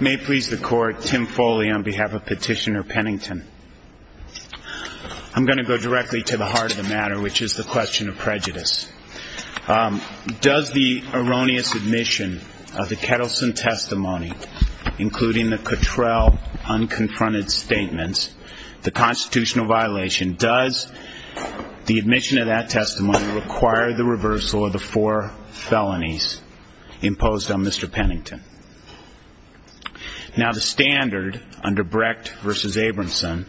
May it please the court, Tim Foley on behalf of Petitioner Pennington. I'm going to go directly to the heart of the matter, which is the question of prejudice. Does the erroneous admission of the Kettleson testimony, including the Cottrell unconfronted statements, the constitutional violation, does the admission of that testimony require the reversal of the four felonies imposed on Mr. Pennington? Now the standard under Brecht v. Abramson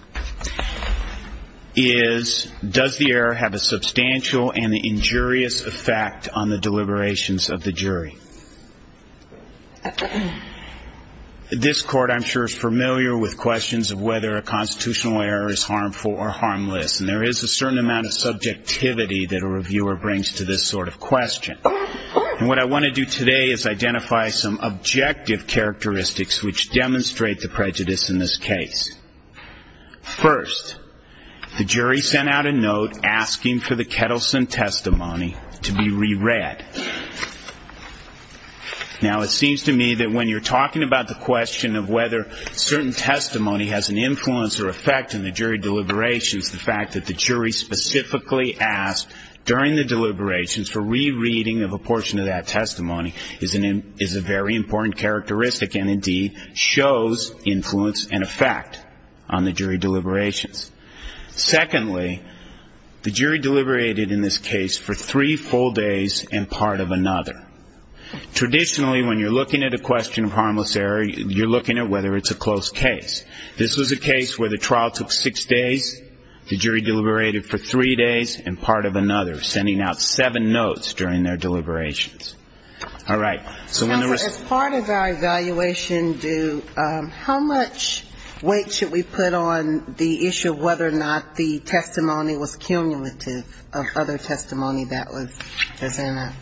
is does the error have a substantial and injurious effect on the deliberations of the jury? This court I'm sure is familiar with questions of whether a constitutional error is harmful or harmless, and there is a certain amount of subjectivity that a reviewer brings to this sort of question. And what I want to do today is identify some objective characteristics which demonstrate the prejudice in this case. First, the jury sent out a note asking for the Kettleson testimony to be re-read. Now it seems to me that when you're talking about the question of whether certain testimony has an influence or effect on the jury deliberations, the fact that the jury specifically asked during the deliberations for re-reading of a portion of that testimony is a very important characteristic and indeed shows influence and effect on the jury deliberations. Secondly, the jury deliberated in this case for three full days and part of another. Traditionally, when you're looking at a question of harmless error, you're looking at whether it's a close case. This was a case where the trial took six days, the jury deliberated for three days, and part of another, sending out seven notes during their deliberations. All right. So when there was As part of our evaluation, do how much weight should we put on the issue of whether or not the testimony was cumulative of other testimony that was presented?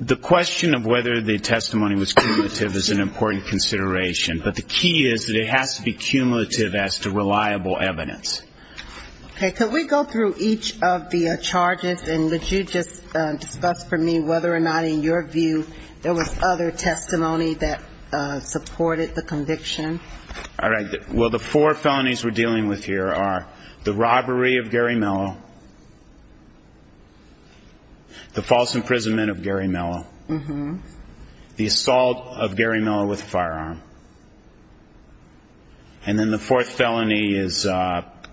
The question of whether the testimony was cumulative is an important consideration. But the key is that it has to be cumulative as to reliable evidence. Okay. Could we go through each of the charges and would you just discuss for me whether or not in your view there was other testimony that supported the conviction? All right. Well, the four felonies we're dealing with here are the robbery of Gary Mello, the assault of Gary Mello with a firearm, and then the fourth felony is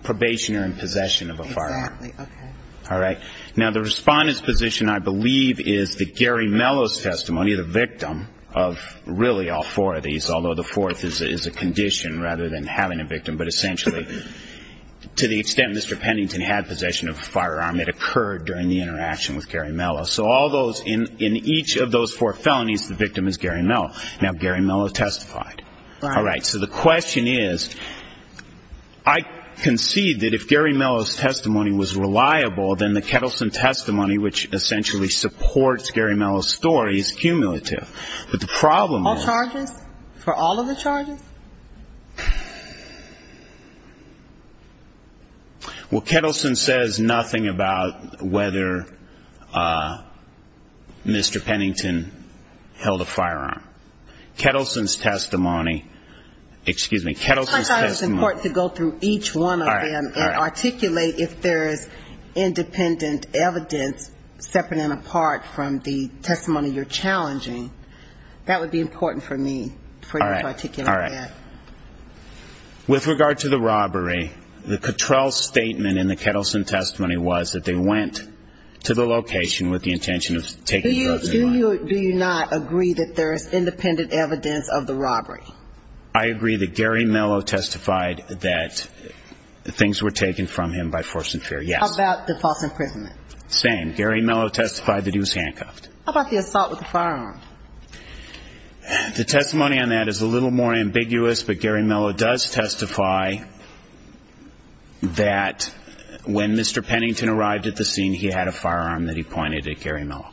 probationary possession of a firearm. Exactly. Okay. All right. Now, the respondent's position, I believe, is that Gary Mello's testimony, the victim of really all four of these, although the fourth is a condition rather than having a victim, but essentially to the extent Mr. Pennington had possession of a firearm, it occurred during the interaction with Gary Mello. So all those in each of those four felonies, the fourth is Gary Mello. Now, Gary Mello testified. All right. So the question is, I concede that if Gary Mello's testimony was reliable, then the Kettleson testimony, which essentially supports Gary Mello's story, is cumulative. But the problem is All charges? For all of the charges? Well, Kettleson says nothing about whether Mr. Pennington held a firearm. Kettleson's testimony, excuse me, Kettleson's testimony I thought it was important to go through each one of them and articulate if there is independent evidence separate and apart from the testimony you're challenging. That would be important for me for you to articulate that. All right. All right. With regard to the robbery, the Cattrell statement in the Kettleson testimony was that they went to the robbery. I agree that Gary Mello testified that things were taken from him by force and fear. Yes. How about the false imprisonment? Same. Gary Mello testified that he was handcuffed. How about the assault with the firearm? The testimony on that is a little more ambiguous, but Gary Mello does testify that when Mr. Pennington arrived at the scene, he had a firearm that he pointed at Gary Mello.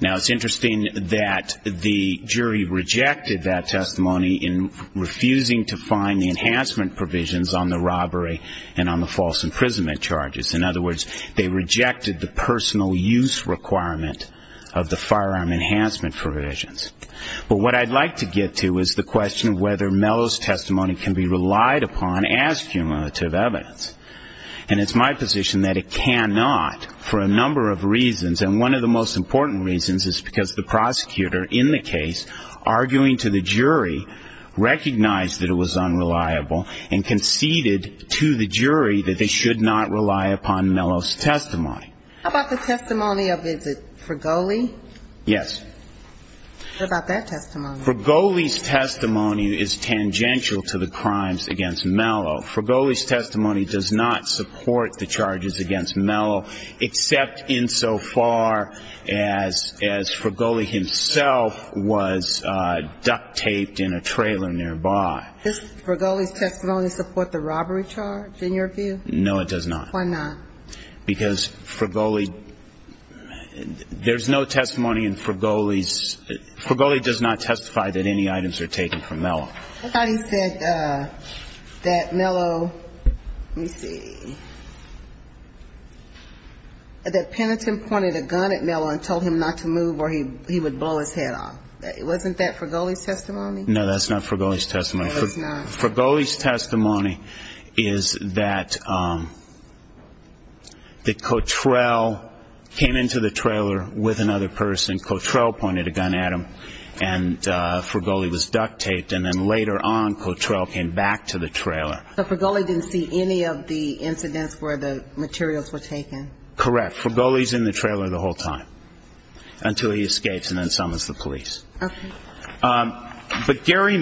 Now, it's interesting that the jury rejected that testimony in refusing to find the enhancement provisions on the robbery and on the false imprisonment charges. In other words, they rejected the personal use requirement of the firearm enhancement provisions. But what I'd like to get to is the question of whether Mello's testimony can be relied upon as cumulative evidence. And it's my position that it cannot for a number of reasons. And one of the most important reasons is because the prosecutor in the case, arguing to the jury, recognized that it was unreliable and conceded to the jury that they should not rely upon Mello's testimony. How about the testimony for Goley? Yes. How about that testimony? For Goley's testimony is tangential to the crimes against Mello. For Goley's testimony does not support the charges against Mello, except insofar as for Goley himself was duct taped in a trailer nearby. Does for Goley's testimony support the robbery charge, in your view? No, it does not. Why not? Because for Goley, there's no testimony in for Goley's, for Goley does not testify that any items are taken from Mello. I thought he said that Mello, let me see, that Penitent pointed a gun at Mello and told him not to move or he would blow his head off. Wasn't that for Goley's testimony? No, that's not for Goley's testimony. For Goley's testimony is that Cottrell came into the trailer with another person, Cottrell pointed a gun at him and for Goley was duct taped and then later on Cottrell came back to the trailer. So for Goley didn't see any of the incidents where the materials were taken? Correct. For Goley's in the trailer the whole time until he escapes and then summons the police. But, Gary,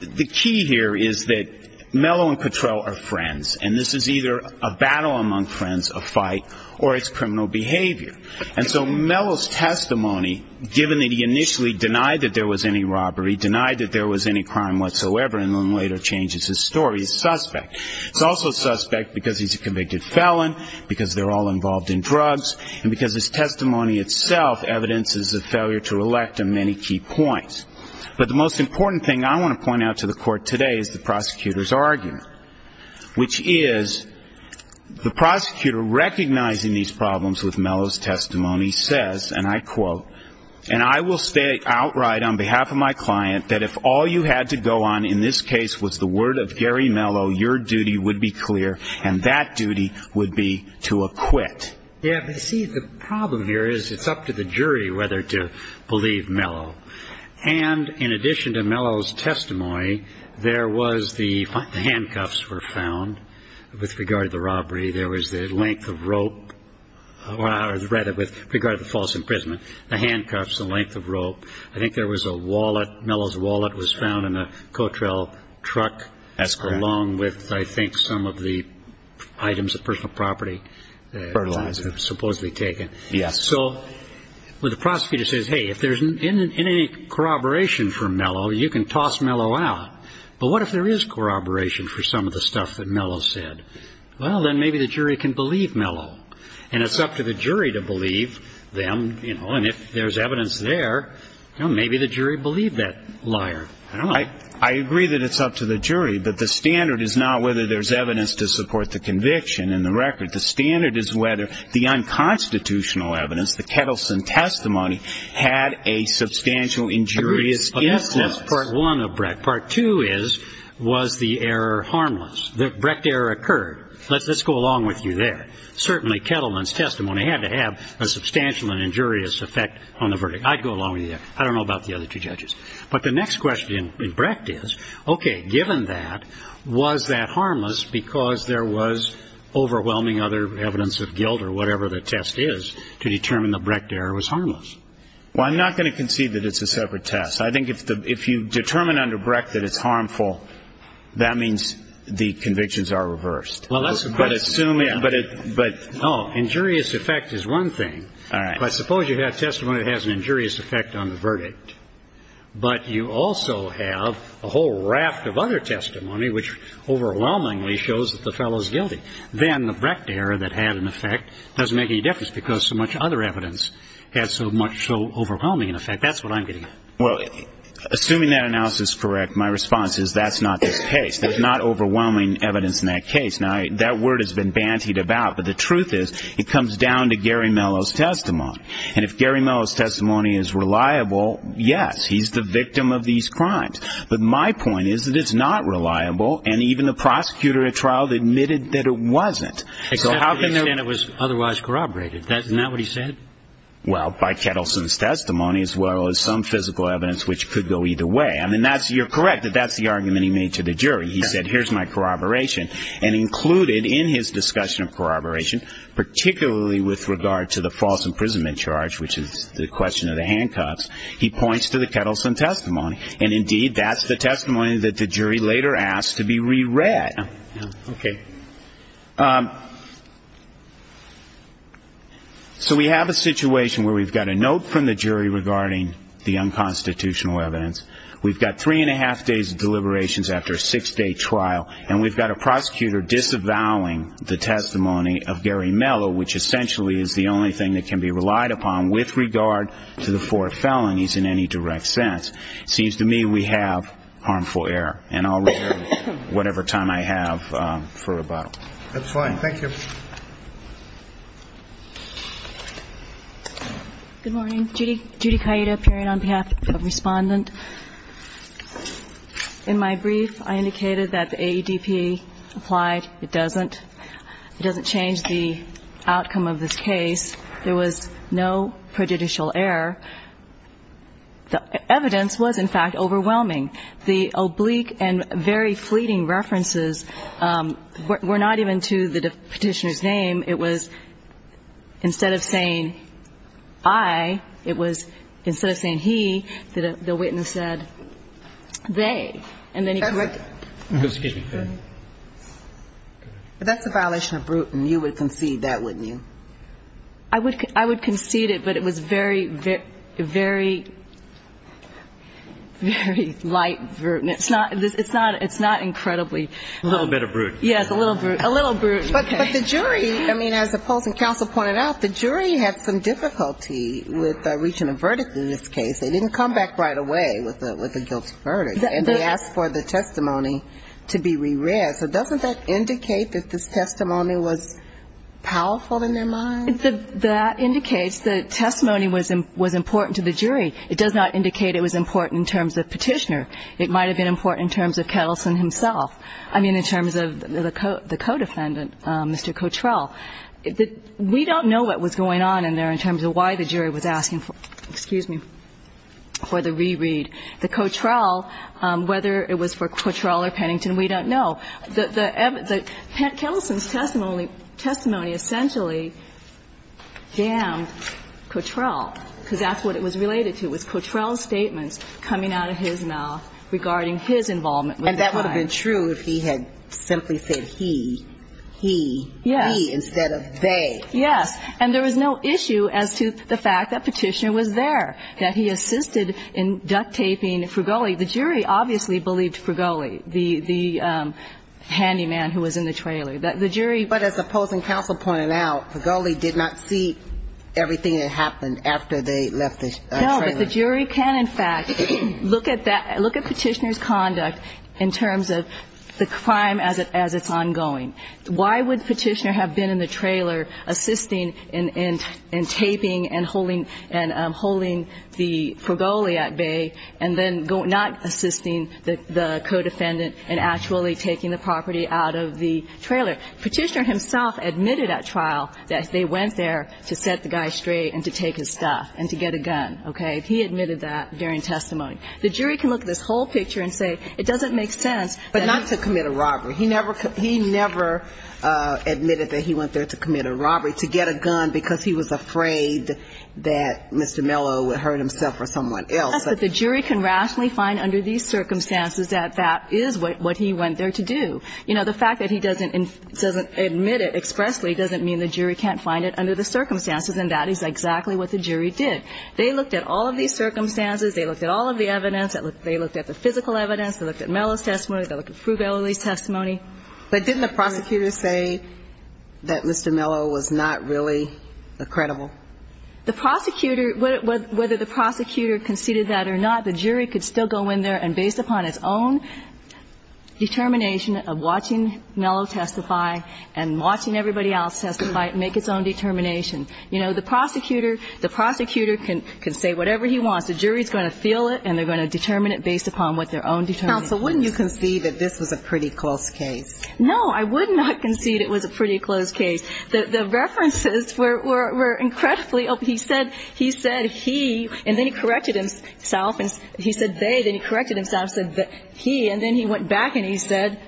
the key here is that Mello and Cottrell are friends, and this is either a battle among friends, a fight, or it's criminal behavior. And so Mello's testimony, given that he initially denied that there was any robbery, denied that there was any crime whatsoever, and then later changes his story, is suspect. It's also suspect because he's a convicted felon, because they're all involved in drugs, and because his testimony itself evidences a failure to elect him and he's a convicted felon. So there are many key points. But the most important thing I want to point out to the court today is the prosecutor's argument, which is the prosecutor recognizing these problems with Mello's testimony says, and I quote, and I will state outright on behalf of my client that if all you had to go on in this case was the word of Gary Mello, your duty would be clear, and that duty would be to acquit. Yeah, but see, the problem here is it's up to the jury whether to believe Mello. And in addition to Mello's testimony, there was the handcuffs were found with regard to the robbery. There was the length of rope, or rather with regard to the false imprisonment, the handcuffs, the length of rope. I think there was a wallet. Mello's wallet was found in a Cottrell truck, along with, I think, some of the items of personal property. Fertilizer. Supposedly taken. Yes. So when the prosecutor says, hey, if there's any corroboration for Mello, you can toss Mello out. But what if there is corroboration for some of the stuff that Mello said? Well, then maybe the jury can believe Mello. And it's up to the jury to believe them. And if there's evidence there, maybe the jury believed that liar. I don't know. I would say that it's up to the jury, but the standard is not whether there's evidence to support the conviction in the record. The standard is whether the unconstitutional evidence, the Kettleson testimony, had a substantial injurious influence. That's part one of Brecht. Part two is, was the error harmless? The Brecht error occurred. Let's go along with you there. Certainly Kettleson's testimony had to have a substantial and injurious effect on the verdict. I'd go along with you there. I don't know about the other two judges. But the next question in Brecht is, okay, given that, was that harmless because there was overwhelming other evidence of guilt or whatever the test is to determine the Brecht error was harmless? Well, I'm not going to concede that it's a separate test. I think if you determine under Brecht that it's harmful, that means the convictions are reversed. Well, that's a good assumption. But no, injurious effect is one thing. All right. Now, if I suppose you have testimony that has an injurious effect on the verdict, but you also have a whole raft of other testimony which overwhelmingly shows that the fellow is guilty, then the Brecht error that had an effect doesn't make any difference because so much other evidence had so much overwhelming effect. That's what I'm getting at. Well, assuming that analysis is correct, my response is that's not the case. There's not overwhelming evidence in that case. Now, that word has been bantied about. But the truth is, it comes down to Gary Mello's testimony. And if Gary Mello's testimony is reliable, yes, he's the victim of these crimes. But my point is that it's not reliable. And even the prosecutor at trial admitted that it wasn't. So how can that was otherwise corroborated? That's not what he said. Well, by Kettleson's testimony, as well as some physical evidence which could go either way. I mean, that's you're correct that that's the argument he made to the jury. He said, here's my corroboration. And included in his discussion of corroboration, particularly with regard to the false imprisonment charge, which is the question of the handcuffs, he points to the Kettleson testimony. And, indeed, that's the testimony that the jury later asked to be reread. Okay. So we have a situation where we've got a note from the jury regarding the unconstitutional evidence. We've got three and a half days of deliberations after a six-day trial. And we've got a prosecutor disavowing the testimony of Gary Mello, which essentially is the only thing that can be relied upon with regard to the four felonies in any direct sense. Seems to me we have harmful error. And I'll reserve whatever time I have for rebuttal. That's fine. Thank you. Good morning. Judy Kayeda, appearing on behalf of Respondent. In my brief, I indicated that the AEDP applied. It doesn't. It doesn't change the outcome of this case. There was no prejudicial error. The evidence was, in fact, overwhelming. The oblique and very fleeting references were not even to the Petitioner's name. It was instead of saying, I, it was instead of saying, he, the witness said, they. And then he corrected it. But that's a violation of Bruton. You would concede that, wouldn't you? I would concede it, but it was very, very, very light Bruton. It's not incredibly low. A little bit of Bruton. Yes, a little Bruton. A little Bruton. Okay. But the jury, I mean, as the Polson Council pointed out, the jury had some difficulty with reaching a verdict in this case. They didn't come back right away with a guilty verdict, and they asked for the testimony to be reread. So doesn't that indicate that this testimony was powerful in their mind? That indicates the testimony was important to the jury. It does not indicate it was important in terms of Petitioner. It might have been important in terms of Kettleson himself. I mean, in terms of the co-defendant, Mr. Cottrell. We don't know what was going on in there in terms of why the jury was asking for the reread. The Cottrell, whether it was for Cottrell or Pennington, we don't know. Kettleson's testimony essentially damned Cottrell, because that's what it was related to, was Cottrell's statements coming out of his mouth regarding his involvement with the crime. And that would have been true if he had simply said he, he, he instead of they. Yes. And there was no issue as to the fact that Petitioner was there, that he assisted in duct taping Fregoli. The jury obviously believed Fregoli, the, the handyman who was in the trailer. The jury. But as the opposing counsel pointed out, Fregoli did not see everything that happened after they left the trailer. No, but the jury can, in fact, look at that, look at Petitioner's conduct in terms of the crime as it, as it's ongoing. Why would Petitioner have been in the trailer assisting in, in, in taping and holding, and holding the Fregoli in the trailer while he was actually at bay, and then not assisting the, the co-defendant in actually taking the property out of the trailer? Petitioner himself admitted at trial that they went there to set the guy straight and to take his stuff and to get a gun, okay? He admitted that during testimony. The jury can look at this whole picture and say it doesn't make sense. But not to commit a robbery. He never, he never admitted that he went there to commit The fact that he doesn't admit it expressly doesn't mean the jury can't find it under the circumstances, and that is exactly what the jury did. They looked at all of these circumstances. They looked at all of the evidence. They looked at the physical evidence. They looked at Mello's testimony, they looked at Fregoli's testimony. But didn't the prosecutor say that Mr. Mello was not really credible? The jury could still go in there and based upon its own determination of watching Mello testify and watching everybody else testify, make its own determination. You know, the prosecutor can say whatever he wants. The jury is going to feel it, and they're going to determine it based upon what their own determination is. Counsel, wouldn't you concede that this was a pretty close case? No, I would not concede it was a pretty close case. The references were incredibly open. He said he, and then he corrected himself, and he said they, then he corrected himself and said he, and then he went back and he said.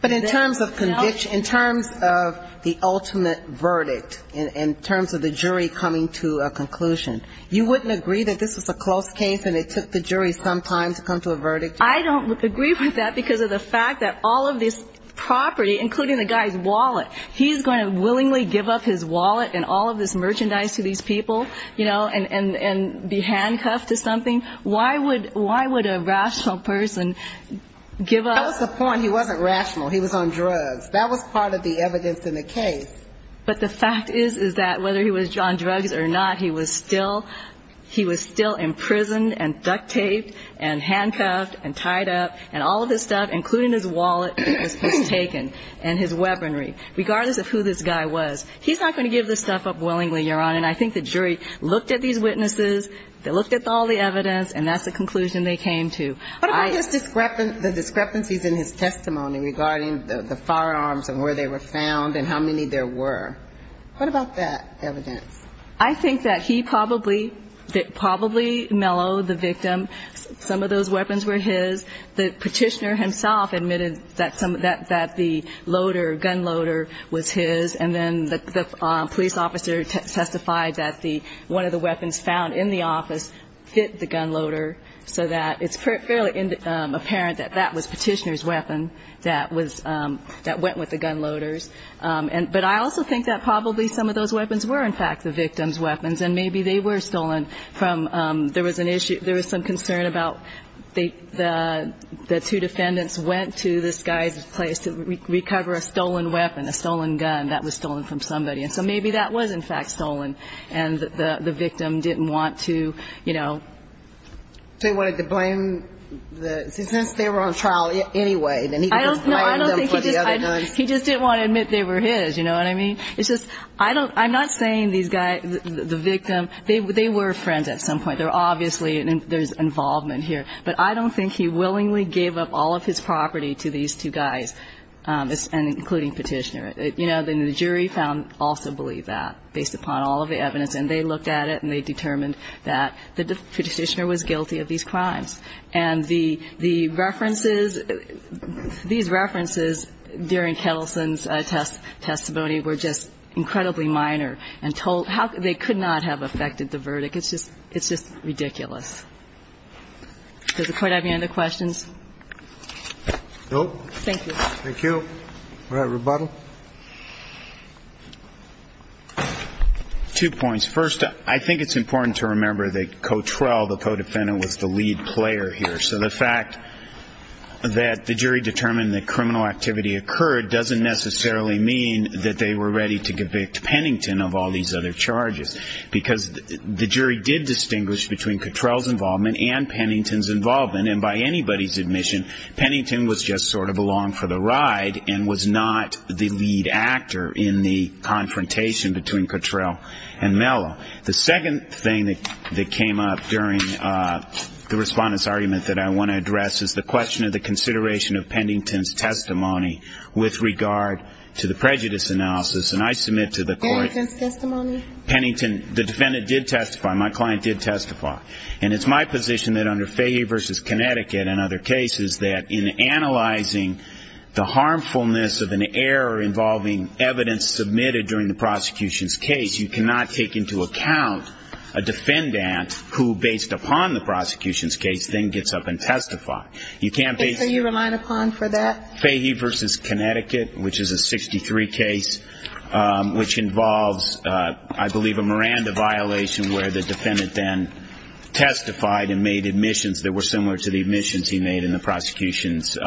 But in terms of the ultimate verdict, in terms of the jury coming to a conclusion, you wouldn't agree that this was a close case and it took the jury some time to come to a verdict? I don't agree with that because of the fact that all of this property, including the guy's wallet, he's going to willingly give up his wallet and all of this merchandise to these people, you know, and be handcuffed to something? Why would a rational person give up? That was the point. He wasn't rational. He was on drugs. That was part of the evidence in the case. But the fact is, is that whether he was on drugs or not, he was still imprisoned and duct taped and handcuffed and tied up, and all of this stuff, including his wallet that was taken and his weaponry, regardless of who this guy was, he's not going to give this stuff up willingly, Your Honor. And I think the jury looked at these witnesses, they looked at all the evidence, and that's the conclusion they came to. What about the discrepancies in his testimony regarding the firearms and where they were found and how many there were? What about that evidence? I think that he probably mellowed the victim. Some of those weapons were his. The petitioner himself admitted that the loader, gun loader, was his. And then the police officer testified that one of the weapons found in the office fit the gun loader so that it's fairly apparent that that was petitioner's weapon that went with the gun loader's. But I also think that probably some of those weapons were, in fact, the victim's weapons, and maybe they were stolen from there was an issue, there was some concern about the two defendants went to this guy's place to recover a stolen weapon, a stolen gun that was stolen from somebody. And so maybe that was, in fact, stolen and the victim didn't want to, you know. They wanted to blame the, since they were on trial anyway, then he didn't want to blame them for the other guns? He just didn't want to admit they were his, you know what I mean? It's just, I don't, I'm not saying these guys, the victim, they were friends at some point. They were obviously, there's involvement here. But I don't think he willingly gave up all of his property to these two guys, including petitioner. You know, the jury found, also believe that, based upon all of the evidence. And they looked at it and they determined that the petitioner was guilty of these crimes. And the references, these references during Kettleson's testimony were just incredibly minor. And they could not have affected the verdict. It's just ridiculous. Does the court have any other questions? Thank you. Go ahead, rebuttal. Two points. First, I think it's important to remember that Cottrell, the co-defendant, was the lead player here. So the fact that the jury determined that criminal activity occurred doesn't necessarily mean that they were ready to convict Pennington of all these other charges. Because the jury did distinguish between Cottrell's involvement and Pennington's involvement. And by anybody's admission, Pennington was just sort of along for the ride and was not the lead actor in the confrontation between Cottrell and Mello. The second thing that came up during the Respondent's argument that I want to address is the question of the consideration of Pennington's testimony with regard to the prejudice analysis. And I submit to the court, Pennington, the defendant did testify, my client did testify. And it's my position that under Fahey v. Connecticut and other cases, that in analyzing the harmfulness of an error involving evidence submitted during the prosecution's case, you cannot take into account a defendant who, based upon the prosecution's case, then gets up and testifies. You can't base Fahey v. Connecticut, which is a 63 case, which involves, I believe, a Miranda violation where the defendant then testified and made admissions that were similar to the admissions he made in the prosecution's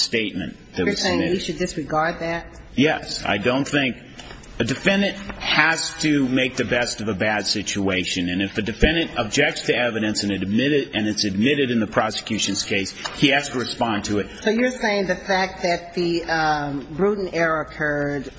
statement. You're saying you should disregard that? Yes. I don't think the defendant has to make the best of a bad situation. And if the defendant objects to evidence and it's admitted in the prosecution's case, he has to respond to it. So you're saying the fact that the Gruden error occurred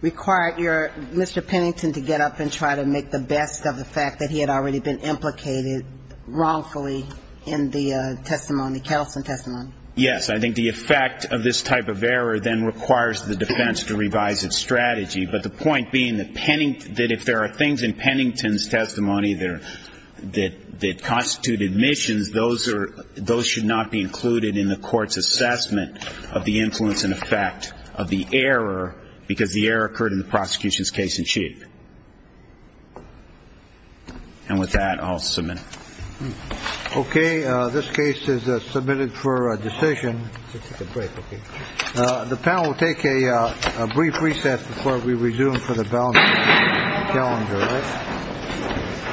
required your Mr. Pennington to get up and try to make the best of the fact that he had already been implicated wrongfully in the testimony, Kelson testimony? Yes. I think the effect of this type of error then requires the defense to revise its strategy. But the point being that if there are things in Pennington's testimony that constitute admissions, those should not be included in the court's assessment of the influence and effect of the error because the error occurred in the prosecution's case in chief. And with that, I'll submit. Okay. This case is submitted for a decision. The panel will take a brief recess before we resume for the calendar.